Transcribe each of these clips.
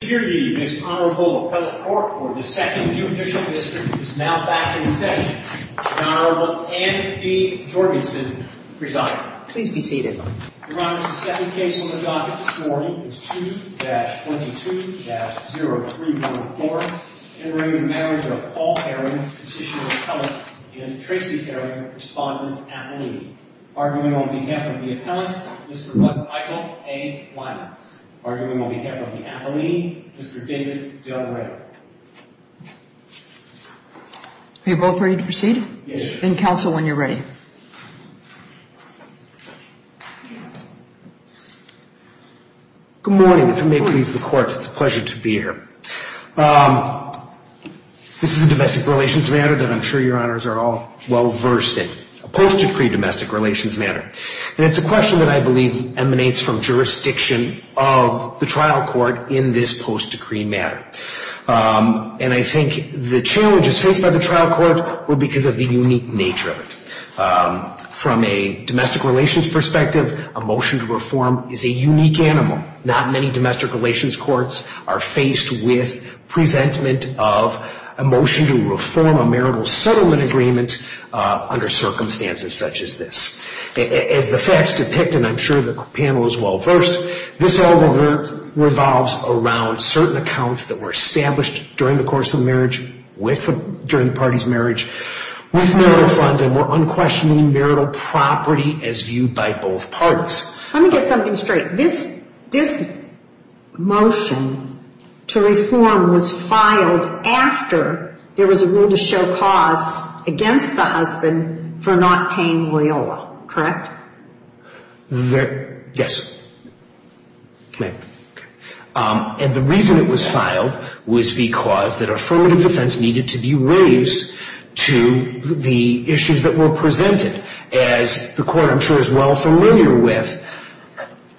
Here the Miss Honorable Appellate Court for the 2nd Judicial District is now back in session. The Honorable Anne B. Jorgensen presiding. Please be seated. Your Honor, the second case on the docket this morning is 2-22-0314, entering the marriage of Paul Herring, Petitioner Appellate, and Tracy Herring, Respondent's Appellee. Arguing on behalf of the Appellant, Mr. Michael A. Wyman. Arguing on behalf of the Appellee, Mr. David Del Rey. Are you both ready to proceed? Yes. Then counsel when you're ready. Good morning. If it may please the Court, it's a pleasure to be here. This is a domestic relations matter that I'm sure your Honors are all well versed in. A post-decree domestic relations matter. And it's a question that I believe emanates from jurisdiction of the trial court in this post-decree matter. And I think the challenges faced by the trial court were because of the unique nature of it. From a domestic relations perspective, a motion to reform is a unique animal. Not many domestic relations courts are faced with presentment of a motion to reform a marital settlement agreement under circumstances such as this. As the facts depict, and I'm sure the panel is well versed, this all revolves around certain accounts that were established during the course of marriage, during the party's marriage, with marital funds and were unquestioning marital property as viewed by both parties. Let me get something straight. This motion to reform was filed after there was a rule to show cause against the husband for not paying Loyola, correct? Yes. And the reason it was filed was because that affirmative defense needed to be raised to the issues that were presented, as the court, I'm sure, is well familiar with.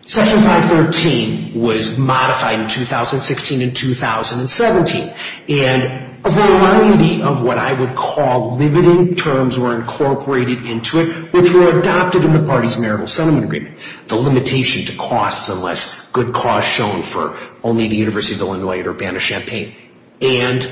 Section 513 was modified in 2016 and 2017. And a variety of what I would call limiting terms were incorporated into it, which were adopted in the party's marital settlement agreement. The limitation to costs unless good cause shown for only the University of Illinois or Urbana-Champaign. And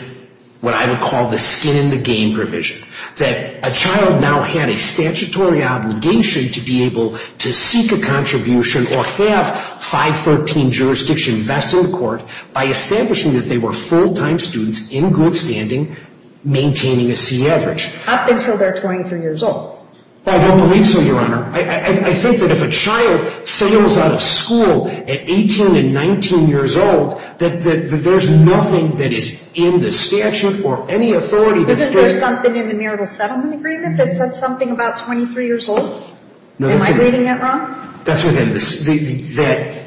what I would call the skin-in-the-game provision, that a child now had a statutory obligation to be able to seek a contribution or have 513 jurisdiction vested in the court by establishing that they were full-time students in good standing, maintaining a C average. Up until they're 23 years old. I don't believe so, Your Honor. I think that if a child fails out of school at 18 and 19 years old, that there's nothing that is in the statute or any authority that says that. Isn't there something in the marital settlement agreement that says something about 23 years old? Am I reading that wrong? That's what I'm saying.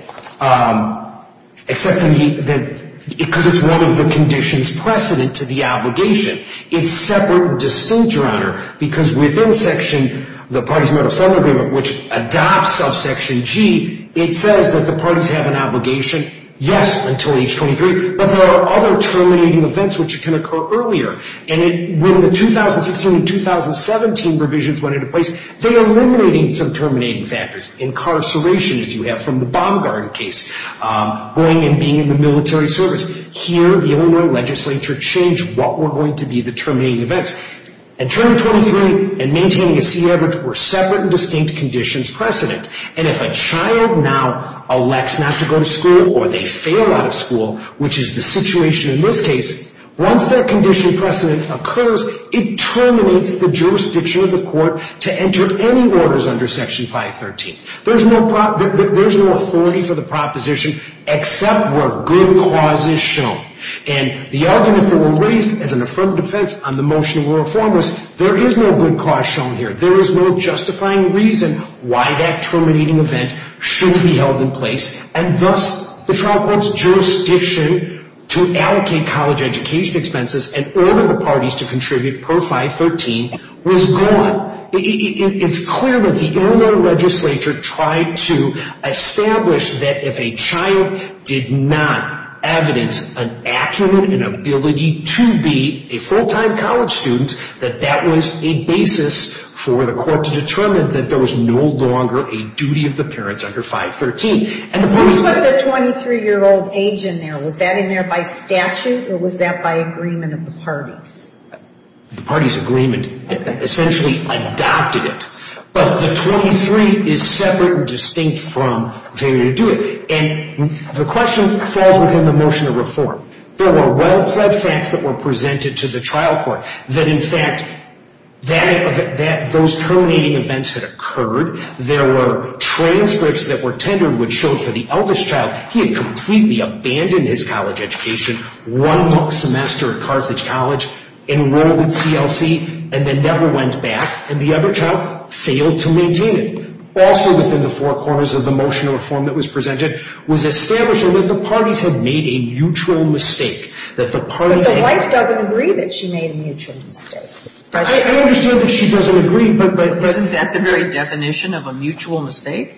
Except that because it's one of the conditions precedent to the obligation, it's separate and distinct, Your Honor, because within section the party's marital settlement agreement, which adopts subsection G, it says that the parties have an obligation, yes, until age 23, but there are other terminating events which can occur earlier. And when the 2016 and 2017 provisions went into place, they eliminated some terminating factors. Incarceration, as you have from the Baumgarten case, going and being in the military service. Here, the Illinois legislature changed what were going to be the terminating events. And turning 23 and maintaining a C average were separate and distinct conditions precedent. And if a child now elects not to go to school or they fail out of school, which is the situation in this case, once that condition precedent occurs, it terminates the jurisdiction of the court to enter any orders under section 513. There's no authority for the proposition except where good cause is shown. And the arguments that were raised as an affirmative defense on the motion were, first, there is no good cause shown here. There is no justifying reason why that terminating event should be held in place. And thus, the trial court's jurisdiction to allocate college education expenses and order the parties to contribute per 513 was gone. It's clear that the Illinois legislature tried to establish that if a child did not evidence an acumen and ability to be a full-time college student, that that was a basis for the court to determine that there was no longer a duty of the parents under 513. And the parties... What about the 23-year-old age in there? Was that in there by statute or was that by agreement of the parties? The parties' agreement essentially adopted it. But the 23 is separate and distinct from failure to do it. And the question falls within the motion of reform. There were well-pledged facts that were presented to the trial court that, in fact, those terminating events had occurred. There were transcripts that were tendered which showed for the eldest child, he had completely abandoned his college education one semester at Carthage College, enrolled at CLC, and then never went back. And the other child failed to maintain it. Also within the four corners of the motion of reform that was presented was established that the parties had made a mutual mistake. But the wife doesn't agree that she made a mutual mistake. I understand that she doesn't agree, but... Isn't that the very definition of a mutual mistake?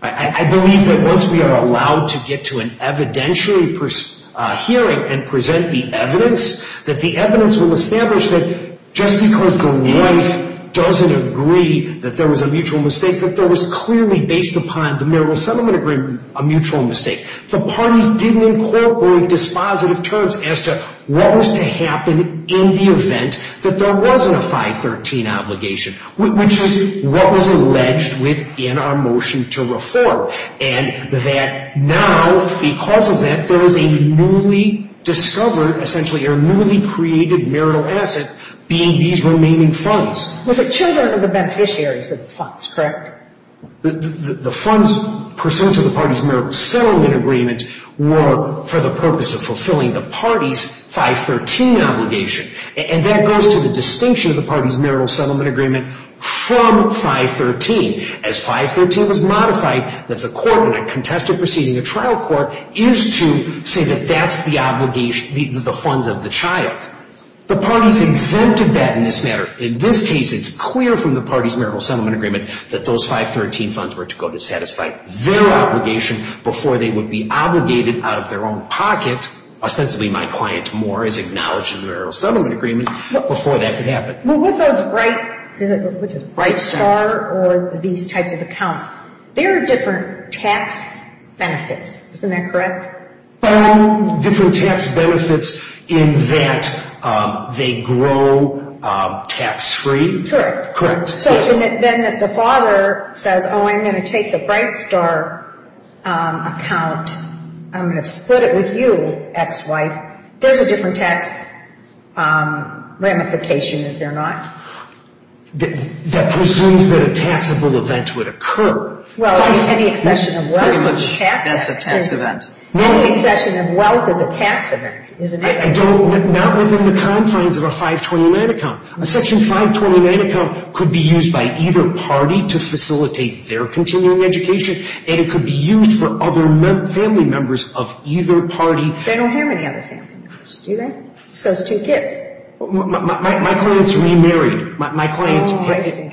I believe that once we are allowed to get to an evidentiary hearing and present the evidence, that the evidence will establish that just because the wife doesn't agree that there was a mutual mistake, that there was clearly based upon the marital settlement agreement a mutual mistake. The parties didn't incorporate dispositive terms as to what was to happen in the event that there wasn't a 513 obligation, which is what was alleged within our motion to reform. And that now, because of that, there is a newly discovered, essentially a newly created marital asset being these remaining funds. Well, the children are the beneficiaries of the funds, correct? The funds pursuant to the parties' marital settlement agreement were for the purpose of fulfilling the parties' 513 obligation. And that goes to the distinction of the parties' marital settlement agreement from 513. As 513 was modified, that the court in a contested proceeding, a trial court, is to say that that's the obligation, the funds of the child. The parties exempted that in this matter. In this case, it's clear from the parties' marital settlement agreement that those 513 funds were to go to satisfy their obligation before they would be obligated out of their own pocket. Ostensibly, my client Moore is acknowledged in the marital settlement agreement before that could happen. Well, with those Bright Star or these types of accounts, there are different tax benefits, isn't that correct? Different tax benefits in that they grow tax-free. Correct. So then if the father says, oh, I'm going to take the Bright Star account, there's a different tax ramification, is there not? That assumes that a taxable event would occur. Well, any accession of wealth is a tax event. Any accession of wealth is a tax event, isn't it? Not within the confines of a 529 account. A Section 529 account could be used by either party to facilitate their continuing education, and it could be used for other family members of either party. They don't have any other family members, do they? Just those two kids. My client is remarried. My client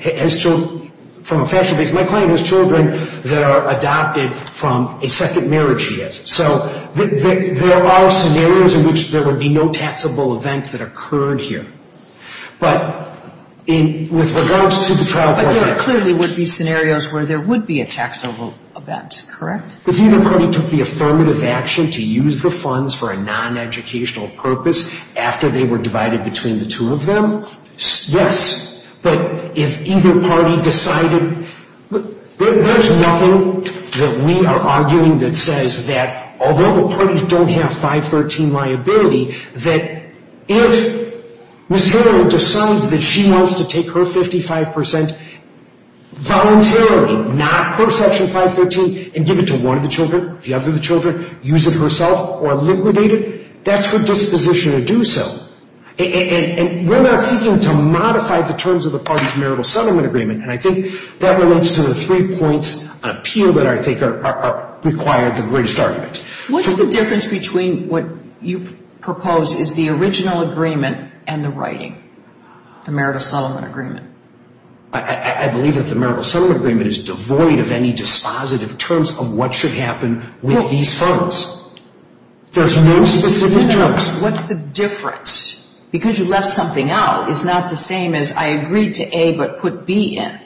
has children from a fashion base. My client has children that are adopted from a second marriage he has. So there are scenarios in which there would be no taxable event that occurred here. But with regards to the trial courts act. But there clearly would be scenarios where there would be a taxable event, correct? If either party took the affirmative action to use the funds for a non-educational purpose after they were divided between the two of them, yes. But if either party decided, there's nothing that we are arguing that says that although the parties don't have 513 liability, that if Ms. Hiller decides that she wants to take her 55% voluntarily, not quote Section 513, and give it to one of the children, the other of the children, use it herself or liquidate it, that's her disposition to do so. And we're not seeking to modify the terms of the party's marital settlement agreement. And I think that relates to the three points on appeal that I think require the greatest argument. What's the difference between what you propose is the original agreement and the writing, the marital settlement agreement? I believe that the marital settlement agreement is devoid of any dispositive terms of what should happen with these funds. There's no specific terms. What's the difference? Because you left something out. It's not the same as I agreed to A but put B in.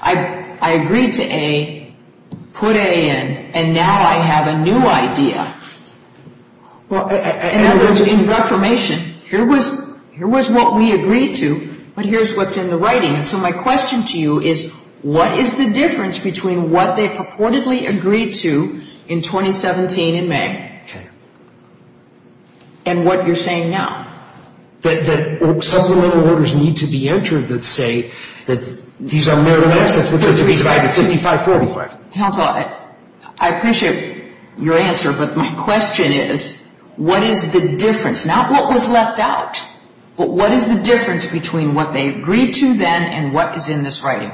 I agreed to A, put A in, and now I have a new idea. In other words, in reformation, here was what we agreed to, but here's what's in the writing. And so my question to you is, what is the difference between what they purportedly agreed to in 2017 in May and what you're saying now? That supplemental orders need to be entered that say that these are marital assets, which are to be divided 55-45. Counselor, I appreciate your answer, but my question is, what is the difference? Not what was left out, but what is the difference between what they agreed to then and what is in this writing?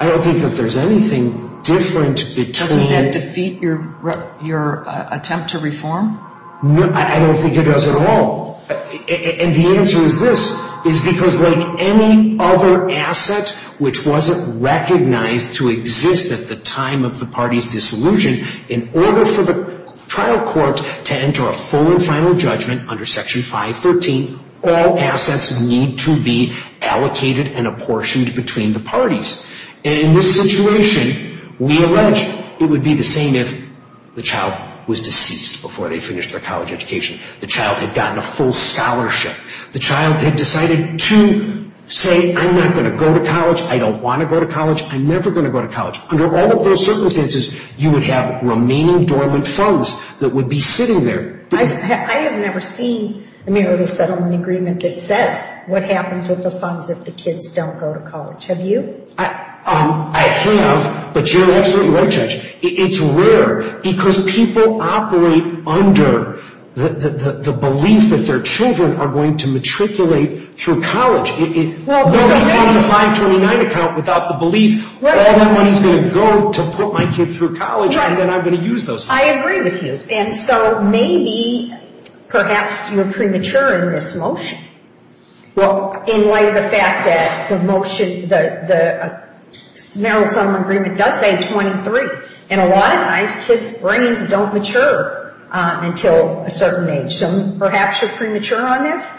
I don't think that there's anything different between. Doesn't that defeat your attempt to reform? I don't think it does at all. And the answer is this, is because like any other asset which wasn't recognized to exist at the time of the party's disillusion, in order for the trial court to enter a full and final judgment under Section 514, all assets need to be allocated and apportioned between the parties. And in this situation, we allege it would be the same if the child was deceased before they finished their college education, the child had gotten a full scholarship, the child had decided to say, I'm not going to go to college, I don't want to go to college, I'm never going to go to college. Under all of those circumstances, you would have remaining dormant funds that would be sitting there. I have never seen a merely settlement agreement that says what happens with the funds if the kids don't go to college. Have you? I have, but you're absolutely right, Judge. It's rare because people operate under the belief that their children are going to matriculate through college. Nobody signs a 529 account without the belief, all that money is going to go to put my kid through college and then I'm going to use those funds. I agree with you. And so maybe perhaps you're premature in this motion. Well, in light of the fact that the motion, the Maryland settlement agreement does say 23, and a lot of times kids' brains don't mature until a certain age. So perhaps you're premature on this?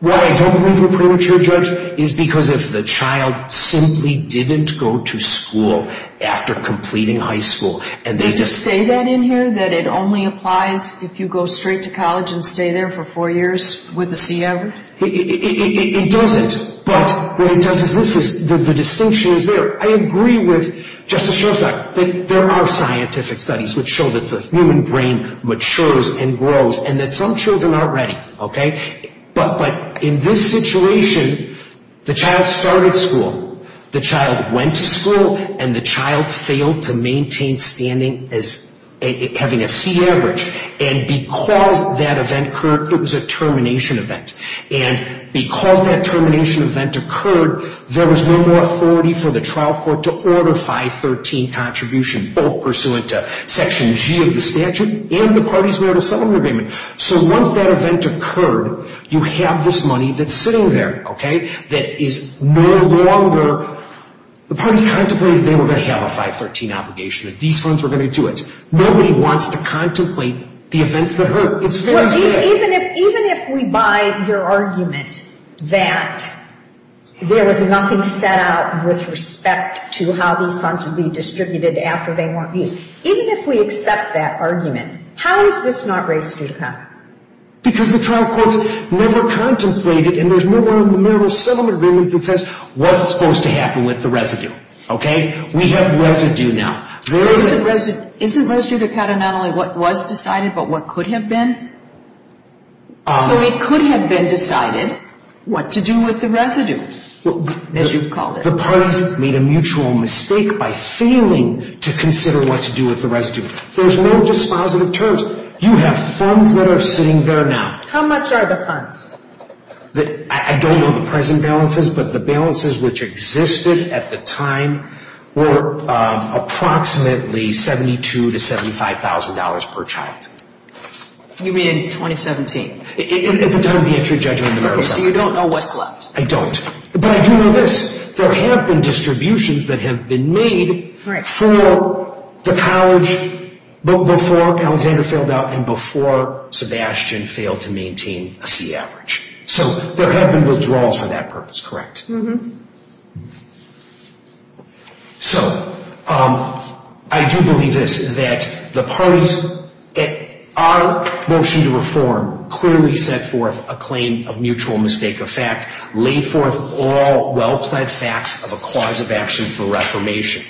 What I don't believe you're premature, Judge, is because if the child simply didn't go to school after completing high school. Does it say that in here, that it only applies if you go straight to college and stay there for four years with a C average? It doesn't, but what it does is this, the distinction is there. I agree with Justice Schrosack that there are scientific studies which show that the human brain matures and grows and that some children aren't ready, okay? But in this situation, the child started school, the child went to school, and the child failed to maintain standing as having a C average. And because that event occurred, it was a termination event. And because that termination event occurred, there was no more authority for the trial court to order 513 contribution, both pursuant to Section G of the statute and the parties' merit of settlement agreement. So once that event occurred, you have this money that's sitting there, okay, that is no longer the parties contemplated they were going to have a 513 obligation, that these funds were going to do it. Nobody wants to contemplate the events that hurt. It's very simple. Even if we buy your argument that there was nothing set out with respect to how these funds would be distributed after they weren't used, even if we accept that argument, how is this not res judicata? Because the trial courts never contemplated, and there's no more merit of settlement agreement that says, what's supposed to happen with the residue, okay? We have residue now. Isn't res judicata not only what was decided but what could have been? So it could have been decided what to do with the residue, as you've called it. The parties made a mutual mistake by failing to consider what to do with the residue. There's no dispositive terms. You have funds that are sitting there now. How much are the funds? I don't know the present balances, but the balances which existed at the time were approximately $72,000 to $75,000 per child. You mean in 2017? At the time of the entry judgment. So you don't know what's left? I don't. But I do know this. There have been distributions that have been made for the college before Alexander failed out and before Sebastian failed to maintain a C average. So there have been withdrawals for that purpose, correct? Mm-hmm. So I do believe this, that the parties, our motion to reform clearly set forth a claim of mutual mistake of fact, laid forth all well-plaid facts of a cause of action for reformation.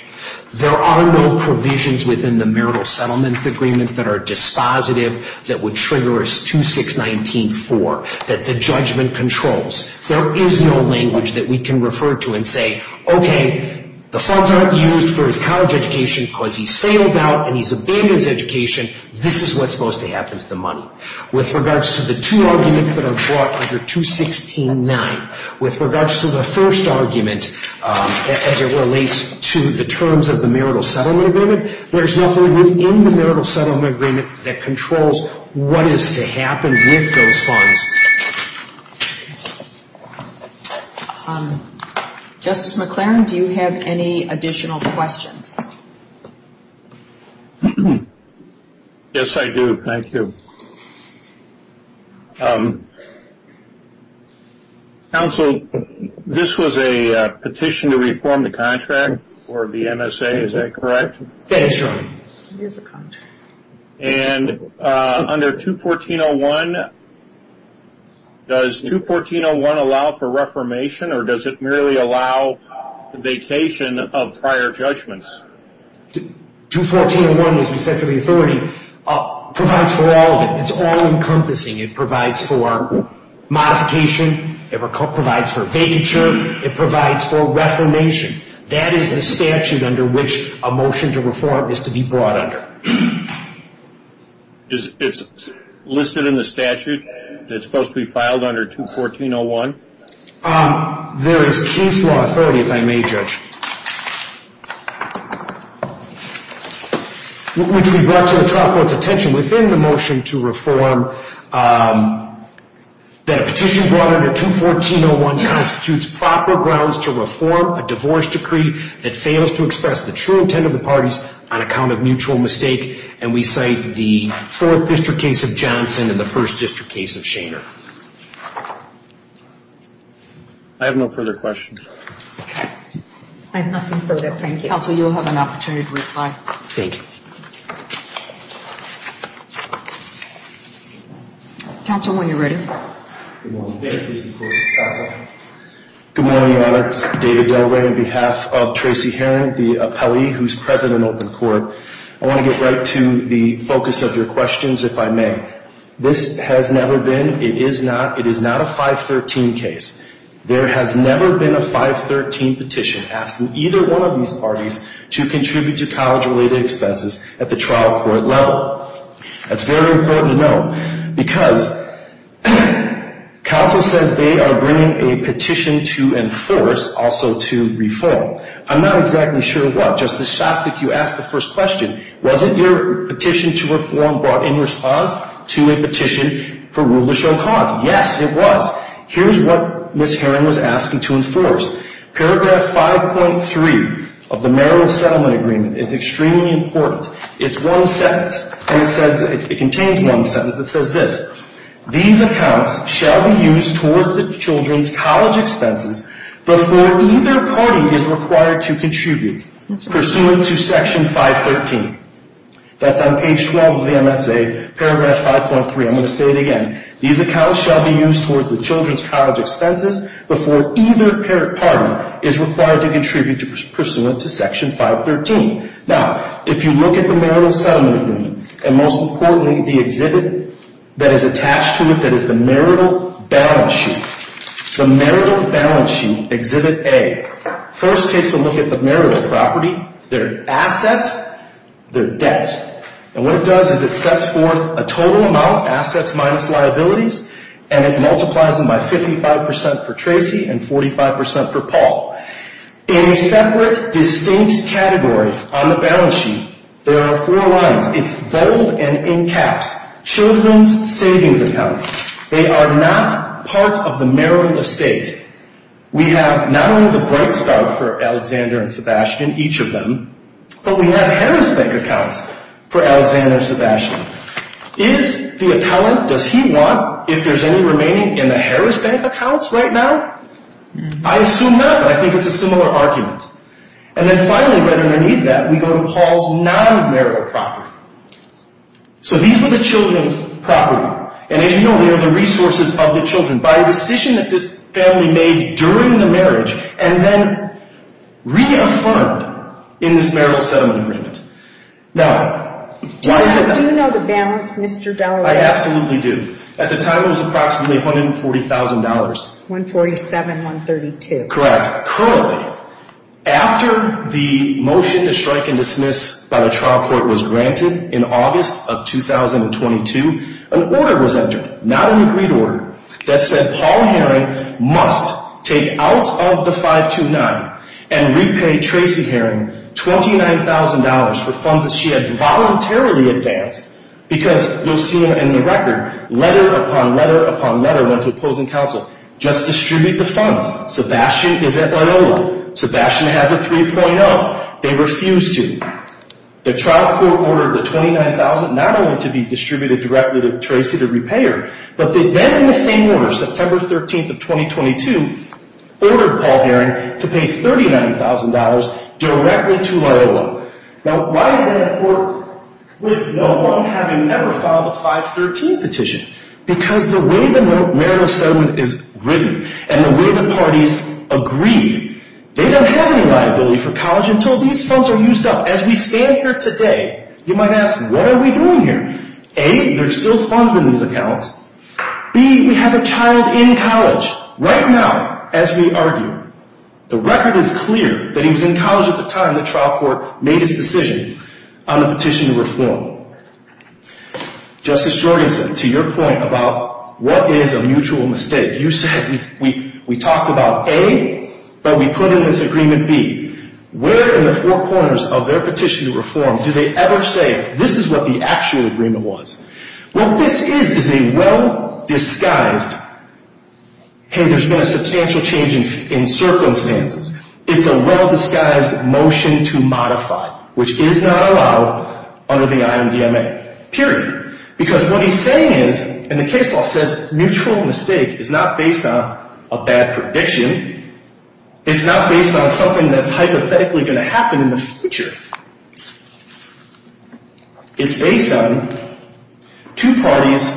There are no provisions within the marital settlement agreement that are dispositive, that would trigger a 2-6-19-4, that the judgment controls. There is no language that we can refer to and say, okay, the funds aren't used for his college education because he's failed out and he's abandoned his education. This is what's supposed to happen to the money. With regards to the two arguments that are brought under 2-6-19, with regards to the first argument, as it relates to the terms of the marital settlement agreement, there is nothing within the marital settlement agreement that controls what is to happen with those funds. Justice McLaren, do you have any additional questions? Yes, I do. Thank you. Counsel, this was a petition to reform the contract for the MSA, is that correct? Yes, it is a contract. And under 2-14-01, does 2-14-01 allow for reformation or does it merely allow the vacation of prior judgments? 2-14-01, as we said to the authority, provides for all of it. It's all-encompassing. It provides for modification, it provides for vacature, it provides for reformation. That is the statute under which a motion to reform is to be brought under. Is it listed in the statute that it's supposed to be filed under 2-14-01? There is case law authority, if I may judge, which we brought to the trial court's attention within the motion to reform that a petition brought under 2-14-01 constitutes proper grounds to reform a divorce decree that fails to express the true intent of the parties on account of mutual mistake. And we cite the 4th District case of Johnson and the 1st District case of Shainer. I have no further questions. I have nothing further. Thank you. Counsel, you will have an opportunity to reply. Thank you. Counsel, when you're ready. Good morning. David Delray on behalf of Tracy Heron, the appellee who is present in open court. I want to get right to the focus of your questions, if I may. This has never been, it is not, it is not a 513 case. There has never been a 513 petition asking either one of these parties to contribute to college-related expenses at the trial court level. That's very important to know. Because counsel says they are bringing a petition to enforce, also to reform. I'm not exactly sure what. Justice Shostak, you asked the first question. Wasn't your petition to reform brought in response to a petition for rule to show cause? Yes, it was. Here's what Ms. Heron was asking to enforce. Paragraph 5.3 of the marital settlement agreement is extremely important. It's one sentence, and it says, it contains one sentence that says this. These accounts shall be used towards the children's college expenses before either party is required to contribute pursuant to Section 513. That's on page 12 of the MSA, paragraph 5.3. I'm going to say it again. These accounts shall be used towards the children's college expenses before either party is required to contribute pursuant to Section 513. Now, if you look at the marital settlement agreement, and most importantly, the exhibit that is attached to it, that is the marital balance sheet. The marital balance sheet, exhibit A, first takes a look at the marital property, their assets, their debts. And what it does is it sets forth a total amount, assets minus liabilities, and it multiplies them by 55% for Tracy and 45% for Paul. In a separate, distinct category on the balance sheet, there are four lines. It's bold and in caps. Children's savings account. They are not part of the marital estate. We have not only the Breitstart for Alexander and Sebastian, each of them, but we have Harris Bank accounts for Alexander and Sebastian. Is the appellant, does he want, if there's any remaining, in the Harris Bank accounts right now? I assume not, but I think it's a similar argument. And then finally, right underneath that, we go to Paul's non-marital property. So these were the children's property. And as you know, they are the resources of the children. By a decision that this family made during the marriage and then reaffirmed in this marital settlement agreement. Now, why is that? Do you know the balance, Mr. Dallara? I absolutely do. At the time, it was approximately $140,000. $147,132. Correct. Currently, after the motion to strike and dismiss by the trial court was granted in August of 2022, an order was entered, not an agreed order, that said Paul Herring must take out of the 529 and repay Tracy Herring $29,000 for funds that she had voluntarily advanced. Because you'll see in the record, letter upon letter upon letter went to opposing counsel. Just distribute the funds. Sebastian is at Loyola. Sebastian has a 3.0. They refused to. The trial court ordered the $29,000 not only to be distributed directly to Tracy to repay her, but then in the same order, September 13th of 2022, ordered Paul Herring to pay $39,000 directly to Loyola. Now, why is that important with no one having ever filed a 513 petition? Because the way the marital settlement is written and the way the parties agreed, they don't have any liability for college until these funds are used up. As we stand here today, you might ask, what are we doing here? A, there's still funds in these accounts. B, we have a child in college right now, as we argue. The record is clear that he was in college at the time the trial court made its decision on a petition to reform. Justice Jorgensen, to your point about what is a mutual mistake, you said we talked about A, but we put in this agreement B. Where in the four corners of their petition to reform do they ever say this is what the actual agreement was? What this is is a well-disguised, hey, there's been a substantial change in circumstances. It's a well-disguised motion to modify, which is not allowed under the IMDMA, period. Because what he's saying is, and the case law says mutual mistake is not based on a bad prediction. It's not based on something that's hypothetically going to happen in the future. It's A7. Two parties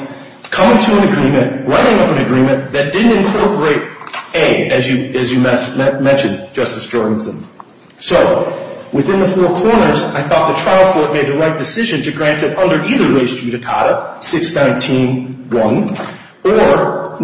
come to an agreement, writing up an agreement that didn't incorporate A, as you mentioned, Justice Jorgensen. So, within the four corners, I thought the trial court made the right decision to grant it under either way's judicata, 619-1 or 9.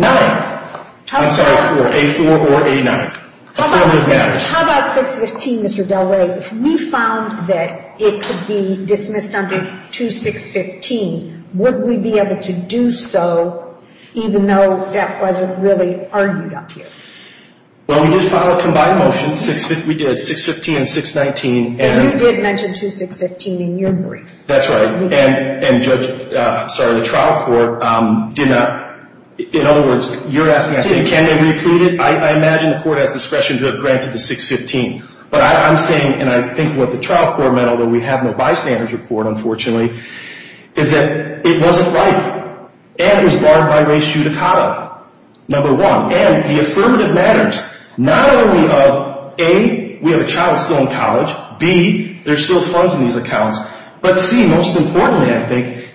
I'm sorry, A4 or A9. How about 615, Mr. Del Rey? If we found that it could be dismissed under 2615, would we be able to do so, even though that wasn't really argued up here? Well, we did file a combined motion, we did, 615 and 619. And you did mention 2615 in your brief. That's right. And the trial court, in other words, you're asking, can they reclaim it? I imagine the court has discretion to have granted the 615. But I'm saying, and I think what the trial court meant, although we have no bystanders report, unfortunately, is that it wasn't right. And it was barred by race judicata, number one. And the affirmative matters, not only of A, we have a child still in college. B, there's still funds in these accounts. But C, most importantly, I think,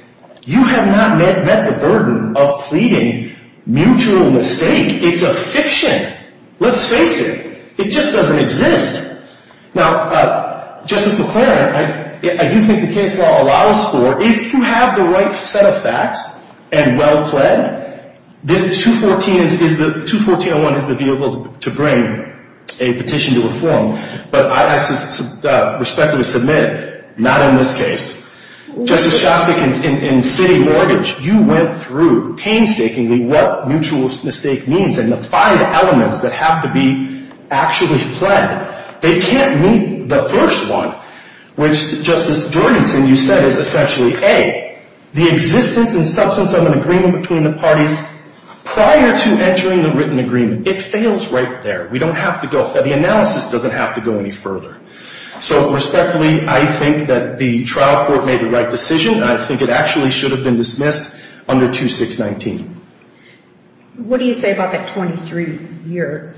you have not met the burden of pleading mutual mistake. It's a fiction. Let's face it. It just doesn't exist. Now, Justice McClaren, I do think the case law allows for, if you have the right set of facts and well pled, this 21401 is the vehicle to bring a petition to a forum. But I respectfully submit, not in this case. Justice Shostak, in city mortgage, you went through painstakingly what mutual mistake means and the five elements that have to be actually pled. They can't meet the first one, which Justice Jordansen, you said, is essentially A, the existence and substance of an agreement between the parties prior to entering the written agreement. It fails right there. We don't have to go. The analysis doesn't have to go any further. So respectfully, I think that the trial court made the right decision. And I think it actually should have been dismissed under 2619. What do you say about that 23-year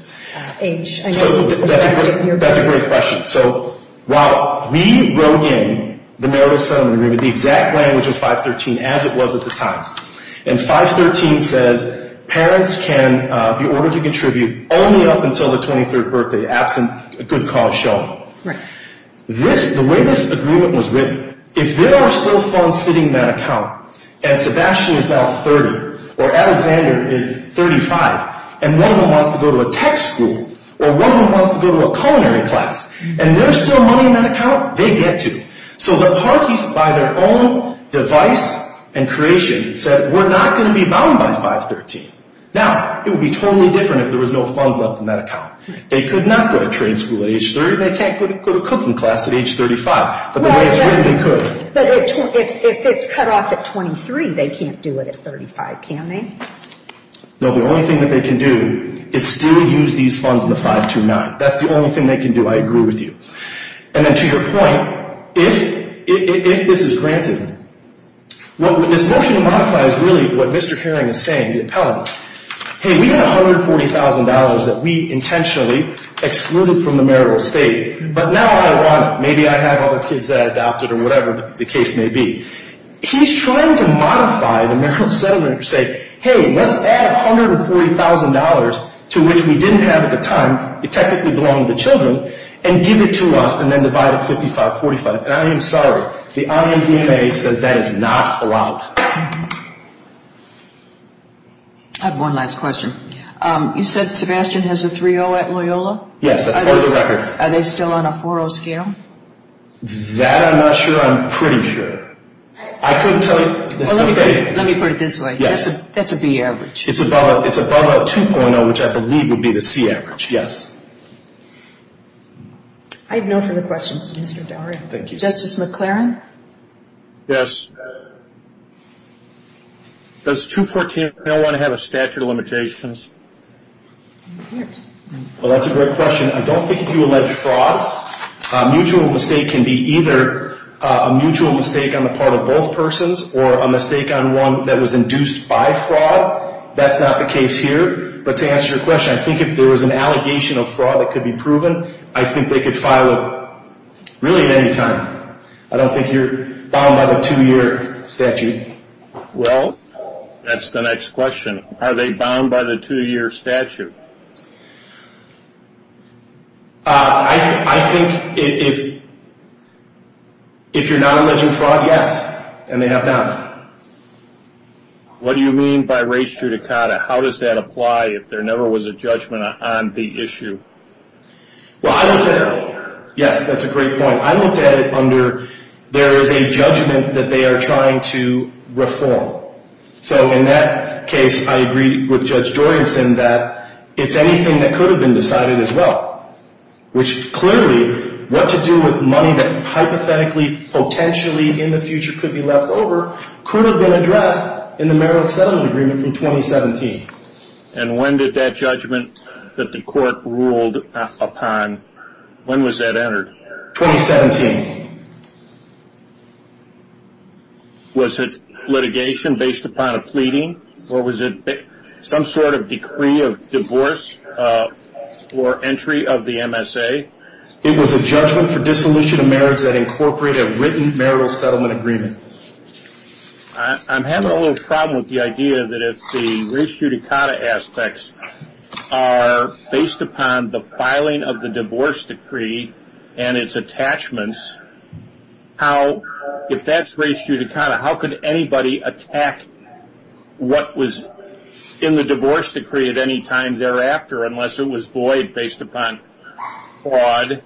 age? That's a great question. So while we wrote in the marital settlement agreement, the exact language was 513, as it was at the time. And 513 says parents can be ordered to contribute only up until the 23rd birthday, absent a good cause shown. Right. The way this agreement was written, if there are still funds sitting in that account, and Sebastian is now 30, or Alexander is 35, and one of them wants to go to a tech school, or one of them wants to go to a culinary class, and there's still money in that account, they get to. So the parties, by their own device and creation, said we're not going to be bound by 513. Now, it would be totally different if there was no funds left in that account. They could not go to trade school at age 30. They can't go to cooking class at age 35. But the way it's written, they could. But if it's cut off at 23, they can't do it at 35, can they? No, the only thing that they can do is still use these funds in the 529. That's the only thing they can do. I agree with you. And then to your point, if this is granted, this motion to modify is really what Mr. Herring is saying, the appellant. Hey, we got $140,000 that we intentionally excluded from the marital estate, but now I want it. Maybe I have other kids that I adopted or whatever the case may be. He's trying to modify the marital settlement to say, hey, let's add $140,000 to which we didn't have at the time. It technically belonged to the children. And give it to us and then divide it 55-45. And I am sorry. The IAVMA says that is not allowed. I have one last question. You said Sebastian has a 3-0 at Loyola? Yes, that's part of the record. Are they still on a 4-0 scale? That I'm not sure. I'm pretty sure. I couldn't tell you. Let me put it this way. Yes. That's a B average. It's above a 2.0, which I believe would be the C average. Yes. I have no further questions, Mr. Dowery. Thank you. Justice McLaren? Yes. Does 214.01 have a statute of limitations? Well, that's a great question. I don't think you allege fraud. A mutual mistake can be either a mutual mistake on the part of both persons or a mistake on one that was induced by fraud. That's not the case here. But to answer your question, I think if there was an allegation of fraud that could be proven, I think they could file it really at any time. I don't think you're bound by the two-year statute. Well, that's the next question. Are they bound by the two-year statute? I think if you're not alleging fraud, yes, and they have not. What do you mean by res judicata? How does that apply if there never was a judgment on the issue? Well, I looked at it earlier. Yes, that's a great point. I looked at it under there is a judgment that they are trying to reform. So in that case, I agree with Judge Joyenson that it's anything that could have been decided as well, which clearly what to do with money that hypothetically, potentially in the future could be left over could have been addressed in the Merrill Settlement Agreement from 2017. And when did that judgment that the court ruled upon, when was that entered? 2017. Was it litigation based upon a pleading or was it some sort of decree of divorce or entry of the MSA? It was a judgment for dissolution of marriage that incorporated written Merrill Settlement Agreement. I'm having a little problem with the idea that if the res judicata aspects are based upon the filing of the divorce decree and its attachments, if that's res judicata, how could anybody attack what was in the divorce decree at any time thereafter unless it was void based upon fraud,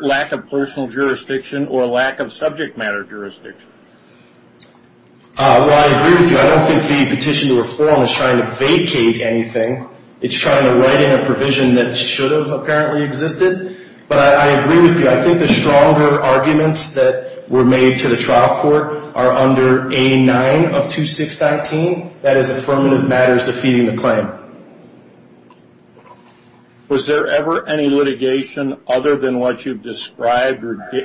lack of personal jurisdiction, or lack of subject matter jurisdiction? Well, I agree with you. I don't think the petition to reform is trying to vacate anything. It's trying to write in a provision that should have apparently existed. But I agree with you. I think the stronger arguments that were made to the trial court are under A9 of 2619. That is affirmative matters defeating the claim. Was there ever any litigation other than what you've described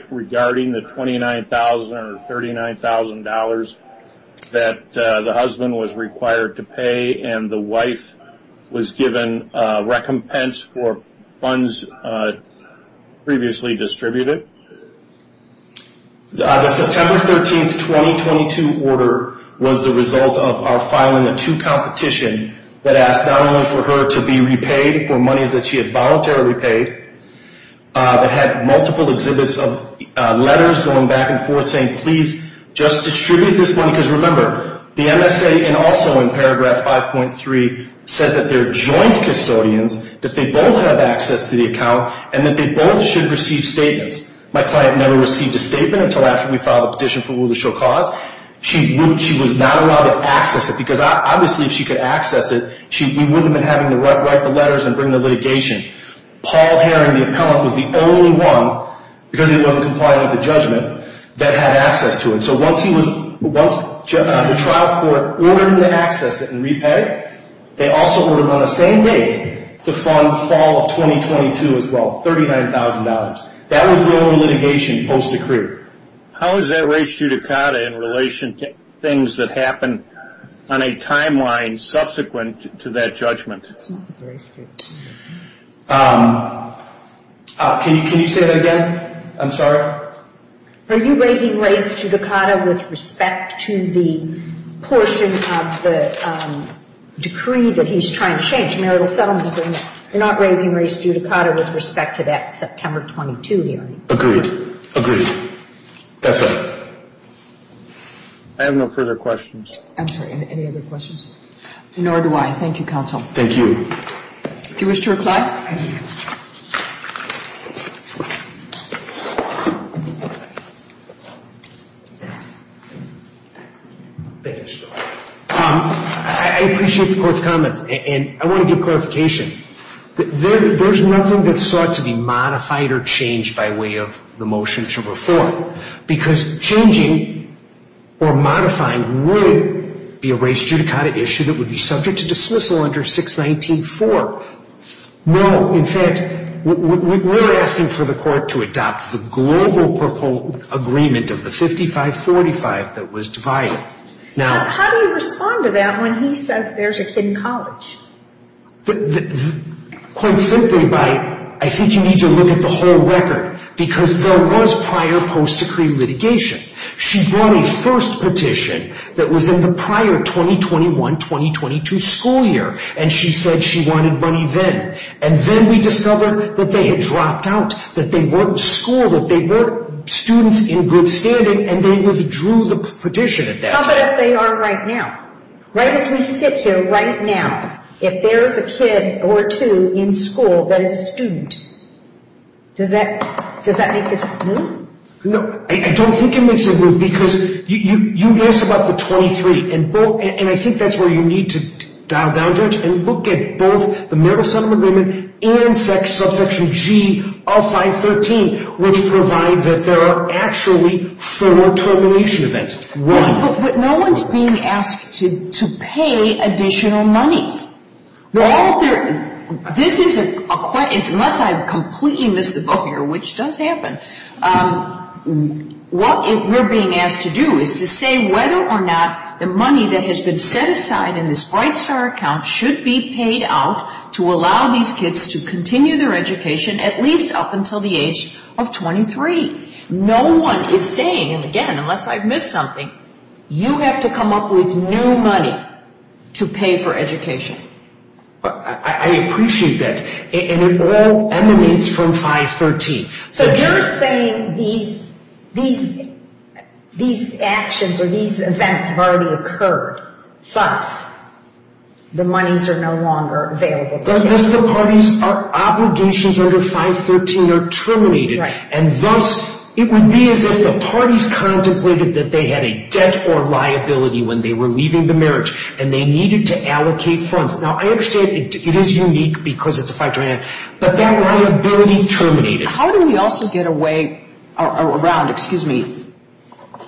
regarding the $29,000 or $39,000 that the husband was required to pay and the wife was given recompense for funds previously distributed? The September 13, 2022 order was the result of our filing a two competition that asked not only for her to be repaid for monies that she had voluntarily paid, but had multiple exhibits of letters going back and forth saying please just distribute this money. Because remember, the MSA and also in paragraph 5.3 says that they're joint custodians, that they both have access to the account, and that they both should receive statements. My client never received a statement until after we filed the petition for rule to show cause. She was not allowed to access it because obviously if she could access it, we wouldn't have been having to write the letters and bring the litigation. Paul Herring, the appellant, was the only one, because he wasn't complying with the judgment, that had access to it. So once the trial court ordered him to access it and repay, they also ordered on the same day to fund fall of 2022 as well, $39,000. That was the only litigation post-decree. How is that ratio to CADA in relation to things that happen on a timeline subsequent to that judgment? Can you say that again? I'm sorry. Are you raising race due to CADA with respect to the portion of the decree that he's trying to change, marital settlement agreement? You're not raising race due to CADA with respect to that September 22 hearing? Agreed. Agreed. That's right. I have no further questions. I'm sorry. Any other questions? Nor do I. Thank you, counsel. Thank you. Do you wish to reply? I appreciate the court's comments, and I want to give clarification. There's nothing that's sought to be modified or changed by way of the motion to reform, because changing or modifying would be a race due to CADA issue that would be subject to dismissal under 619-4. No. In fact, we're asking for the court to adopt the global proposal agreement of the 55-45 that was divided. How do you respond to that when he says there's a hidden college? Quite simply, I think you need to look at the whole record, because there was prior post-decree litigation. She brought a first petition that was in the prior 2021-2022 school year, and she said she wanted money then. And then we discovered that they had dropped out, that they weren't schooled, that they weren't students in good standing, and they withdrew the petition at that time. How about if they are right now? Right as we sit here right now, if there is a kid or two in school that is a student, does that make this move? No, I don't think it makes it move, because you asked about the 23, and I think that's where you need to dial down, Judge, and look at both the murder settlement agreement and subsection G of 513, which provide that there are actually four termination events. But no one's being asked to pay additional monies. Well, this is a question, unless I've completely missed the boat here, which does happen. What we're being asked to do is to say whether or not the money that has been set aside in this Bright Star account should be paid out to allow these kids to continue their education at least up until the age of 23. No one is saying, and again, unless I've missed something, you have to come up with new money to pay for education. I appreciate that, and it all emanates from 513. So you're saying these actions or these events have already occurred, thus the monies are no longer available to you. And thus the parties' obligations under 513 are terminated. And thus it would be as if the parties contemplated that they had a debt or liability when they were leaving the marriage, and they needed to allocate funds. Now, I understand it is unique because it's a 513, but that liability terminated. How do we also get around, excuse me,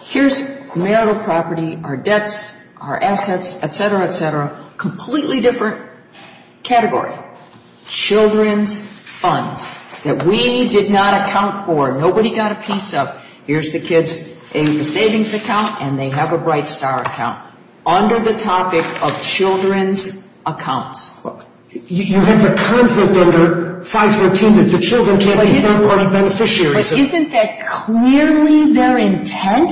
here's marital property, our debts, our assets, et cetera, et cetera, completely different category. Children's funds that we did not account for, nobody got a piece of. Here's the kids' savings account, and they have a Bright Star account under the topic of children's accounts. You have the conflict under 513 that the children can't be third-party beneficiaries. But isn't that clearly their intent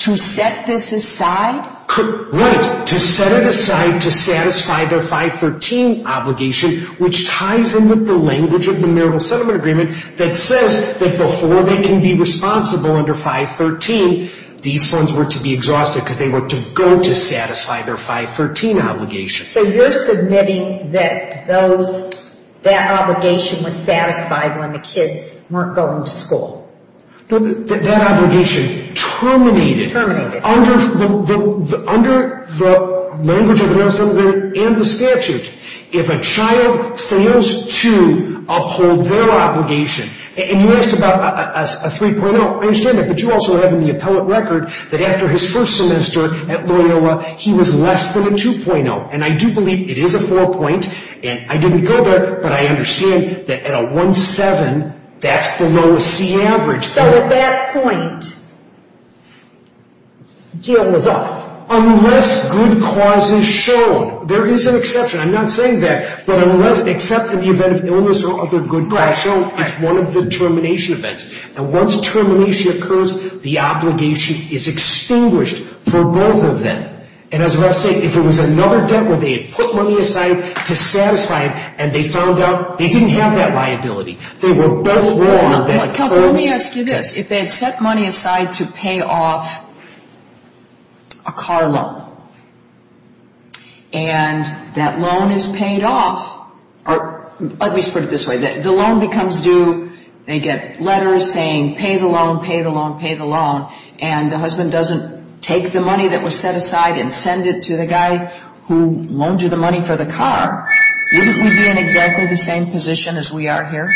to set this aside? Right, to set it aside to satisfy their 513 obligation, which ties in with the language of the marital settlement agreement that says that before they can be responsible under 513, these funds were to be exhausted because they were to go to satisfy their 513 obligation. So you're submitting that that obligation was satisfied when the kids weren't going to school. That obligation terminated under the language of the marital settlement agreement and the statute. If a child fails to uphold their obligation, and you asked about a 3.0, I understand that, but you also have in the appellate record that after his first semester at Loyola, he was less than a 2.0. And I do believe it is a 4.0, and I didn't go there, but I understand that at a 1.7, that's below the C average. So at that point, Gil was off. Unless good cause is shown. There is an exception. I'm not saying that. But unless, except in the event of illness or other good cause shown at one of the termination events. And once termination occurs, the obligation is extinguished for both of them. And as Russ said, if it was another debt where they had put money aside to satisfy it, and they found out they didn't have that liability, they were both wrong. Counsel, let me ask you this. If they had set money aside to pay off a car loan, and that loan is paid off, or let me put it this way, the loan becomes due, they get letters saying pay the loan, pay the loan, pay the loan, and the husband doesn't take the money that was set aside and send it to the guy who loaned you the money for the car, wouldn't we be in exactly the same position as we are here?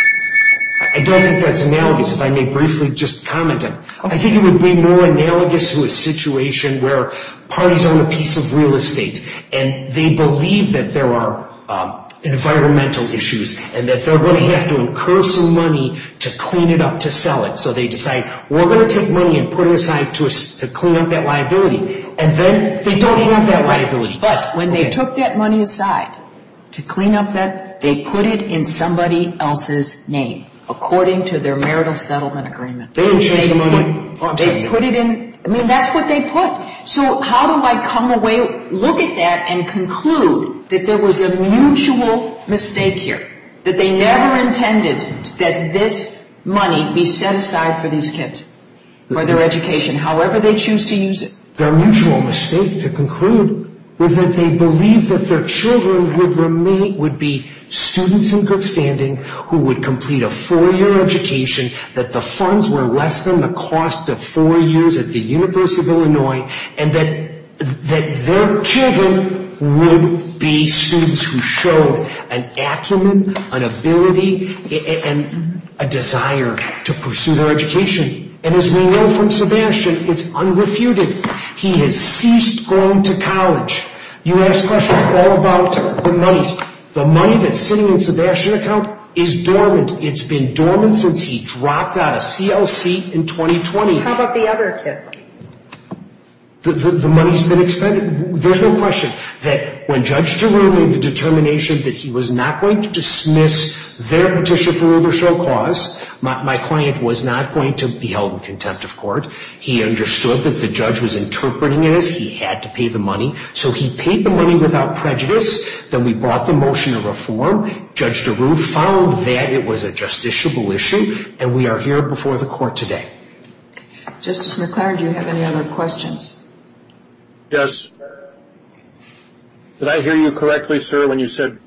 I don't think that's analogous. If I may briefly just comment on it. I think it would be more analogous to a situation where parties own a piece of real estate, and they believe that there are environmental issues, and that they're going to have to incur some money to clean it up to sell it. So they decide, we're going to take money and put it aside to clean up that liability. And then they don't have that liability. But when they took that money aside to clean up that, they put it in somebody else's name, according to their marital settlement agreement. They didn't change the money. They put it in, I mean, that's what they put. So how do I come away, look at that, and conclude that there was a mutual mistake here, that they never intended that this money be set aside for these kids, for their education, however they choose to use it? Their mutual mistake, to conclude, was that they believed that their children would be students in good standing, who would complete a four-year education, that the funds were less than the cost of four years at the University of Illinois, and that their children would be students who showed an acumen, an ability, and a desire to pursue their education. And as we know from Sebastian, it's unrefuted. He has ceased going to college. You ask questions all about the monies. The money that's sitting in Sebastian's account is dormant. It's been dormant since he dropped out of CLC in 2020. How about the other kids? The money's been expended? There's no question that when Judge DeRue made the determination that he was not going to dismiss their petition for Uber Show cause, my client was not going to be held in contempt of court. He understood that the judge was interpreting it as he had to pay the money. So he paid the money without prejudice. Then we brought the motion to reform. Judge DeRue found that it was a justiciable issue, and we are here before the court today. Justice McClaren, do you have any other questions? Yes. Did I hear you correctly, sir, when you said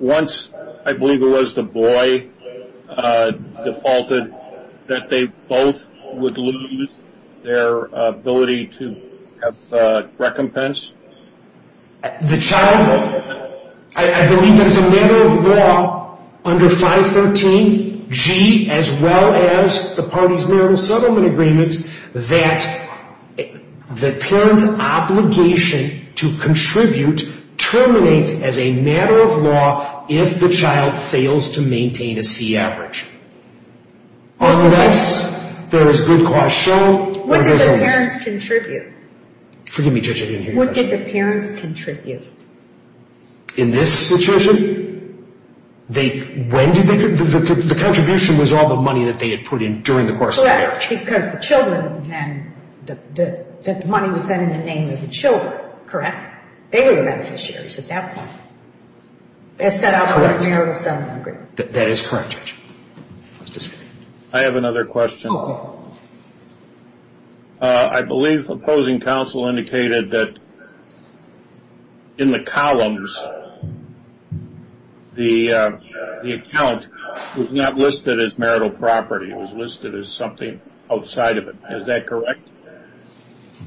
once, I believe it was the boy defaulted, that they both would lose their ability to have recompense? The child, I believe it's a matter of law under 513G, as well as the parties' marital settlement agreements, that the parent's obligation to contribute terminates as a matter of law if the child fails to maintain a C average. Unless there is good cause shown. What do the parents contribute? Forgive me, Judge, I didn't hear your question. What did the parents contribute? In this situation? When did they contribute? The contribution was all the money that they had put in during the course of the marriage. Correct, because the money was then in the name of the children, correct? They were the beneficiaries at that point. As set out in the marital settlement agreement. That is correct, Judge. I have another question. Okay. I believe opposing counsel indicated that in the columns, the account was not listed as marital property. It was listed as something outside of it. Is that correct?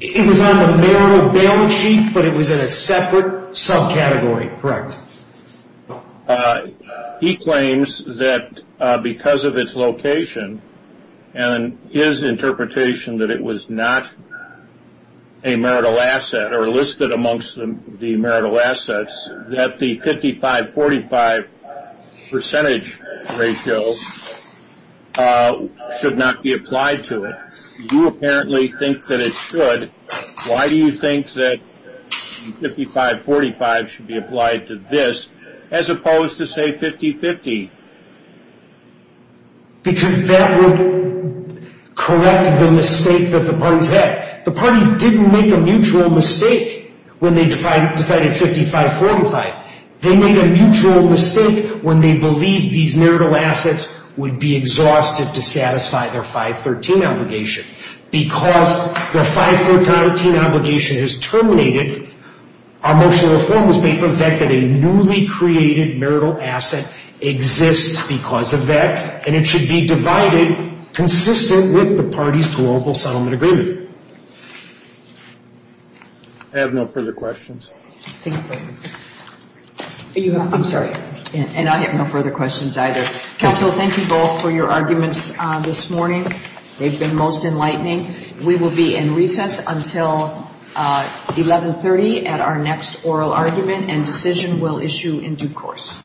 It was on the marital bail sheet, but it was in a separate subcategory. Correct. He claims that because of its location and his interpretation that it was not a marital asset or listed amongst the marital assets, that the 55-45 percentage ratio should not be applied to it. You apparently think that it should. Why do you think that 55-45 should be applied to this as opposed to, say, 50-50? Because that would correct the mistake that the parties had. The parties didn't make a mutual mistake when they decided 55-45. They made a mutual mistake when they believed these marital assets would be exhausted to satisfy their 5-13 obligation. Because the 5-13 obligation is terminated, our motion to reform was based on the fact that a newly created marital asset exists because of that, and it should be divided consistent with the parties' global settlement agreement. I have no further questions. I'm sorry, and I have no further questions either. Counsel, thank you both for your arguments this morning. They've been most enlightening. We will be in recess until 1130 at our next oral argument, and decision will issue in due course.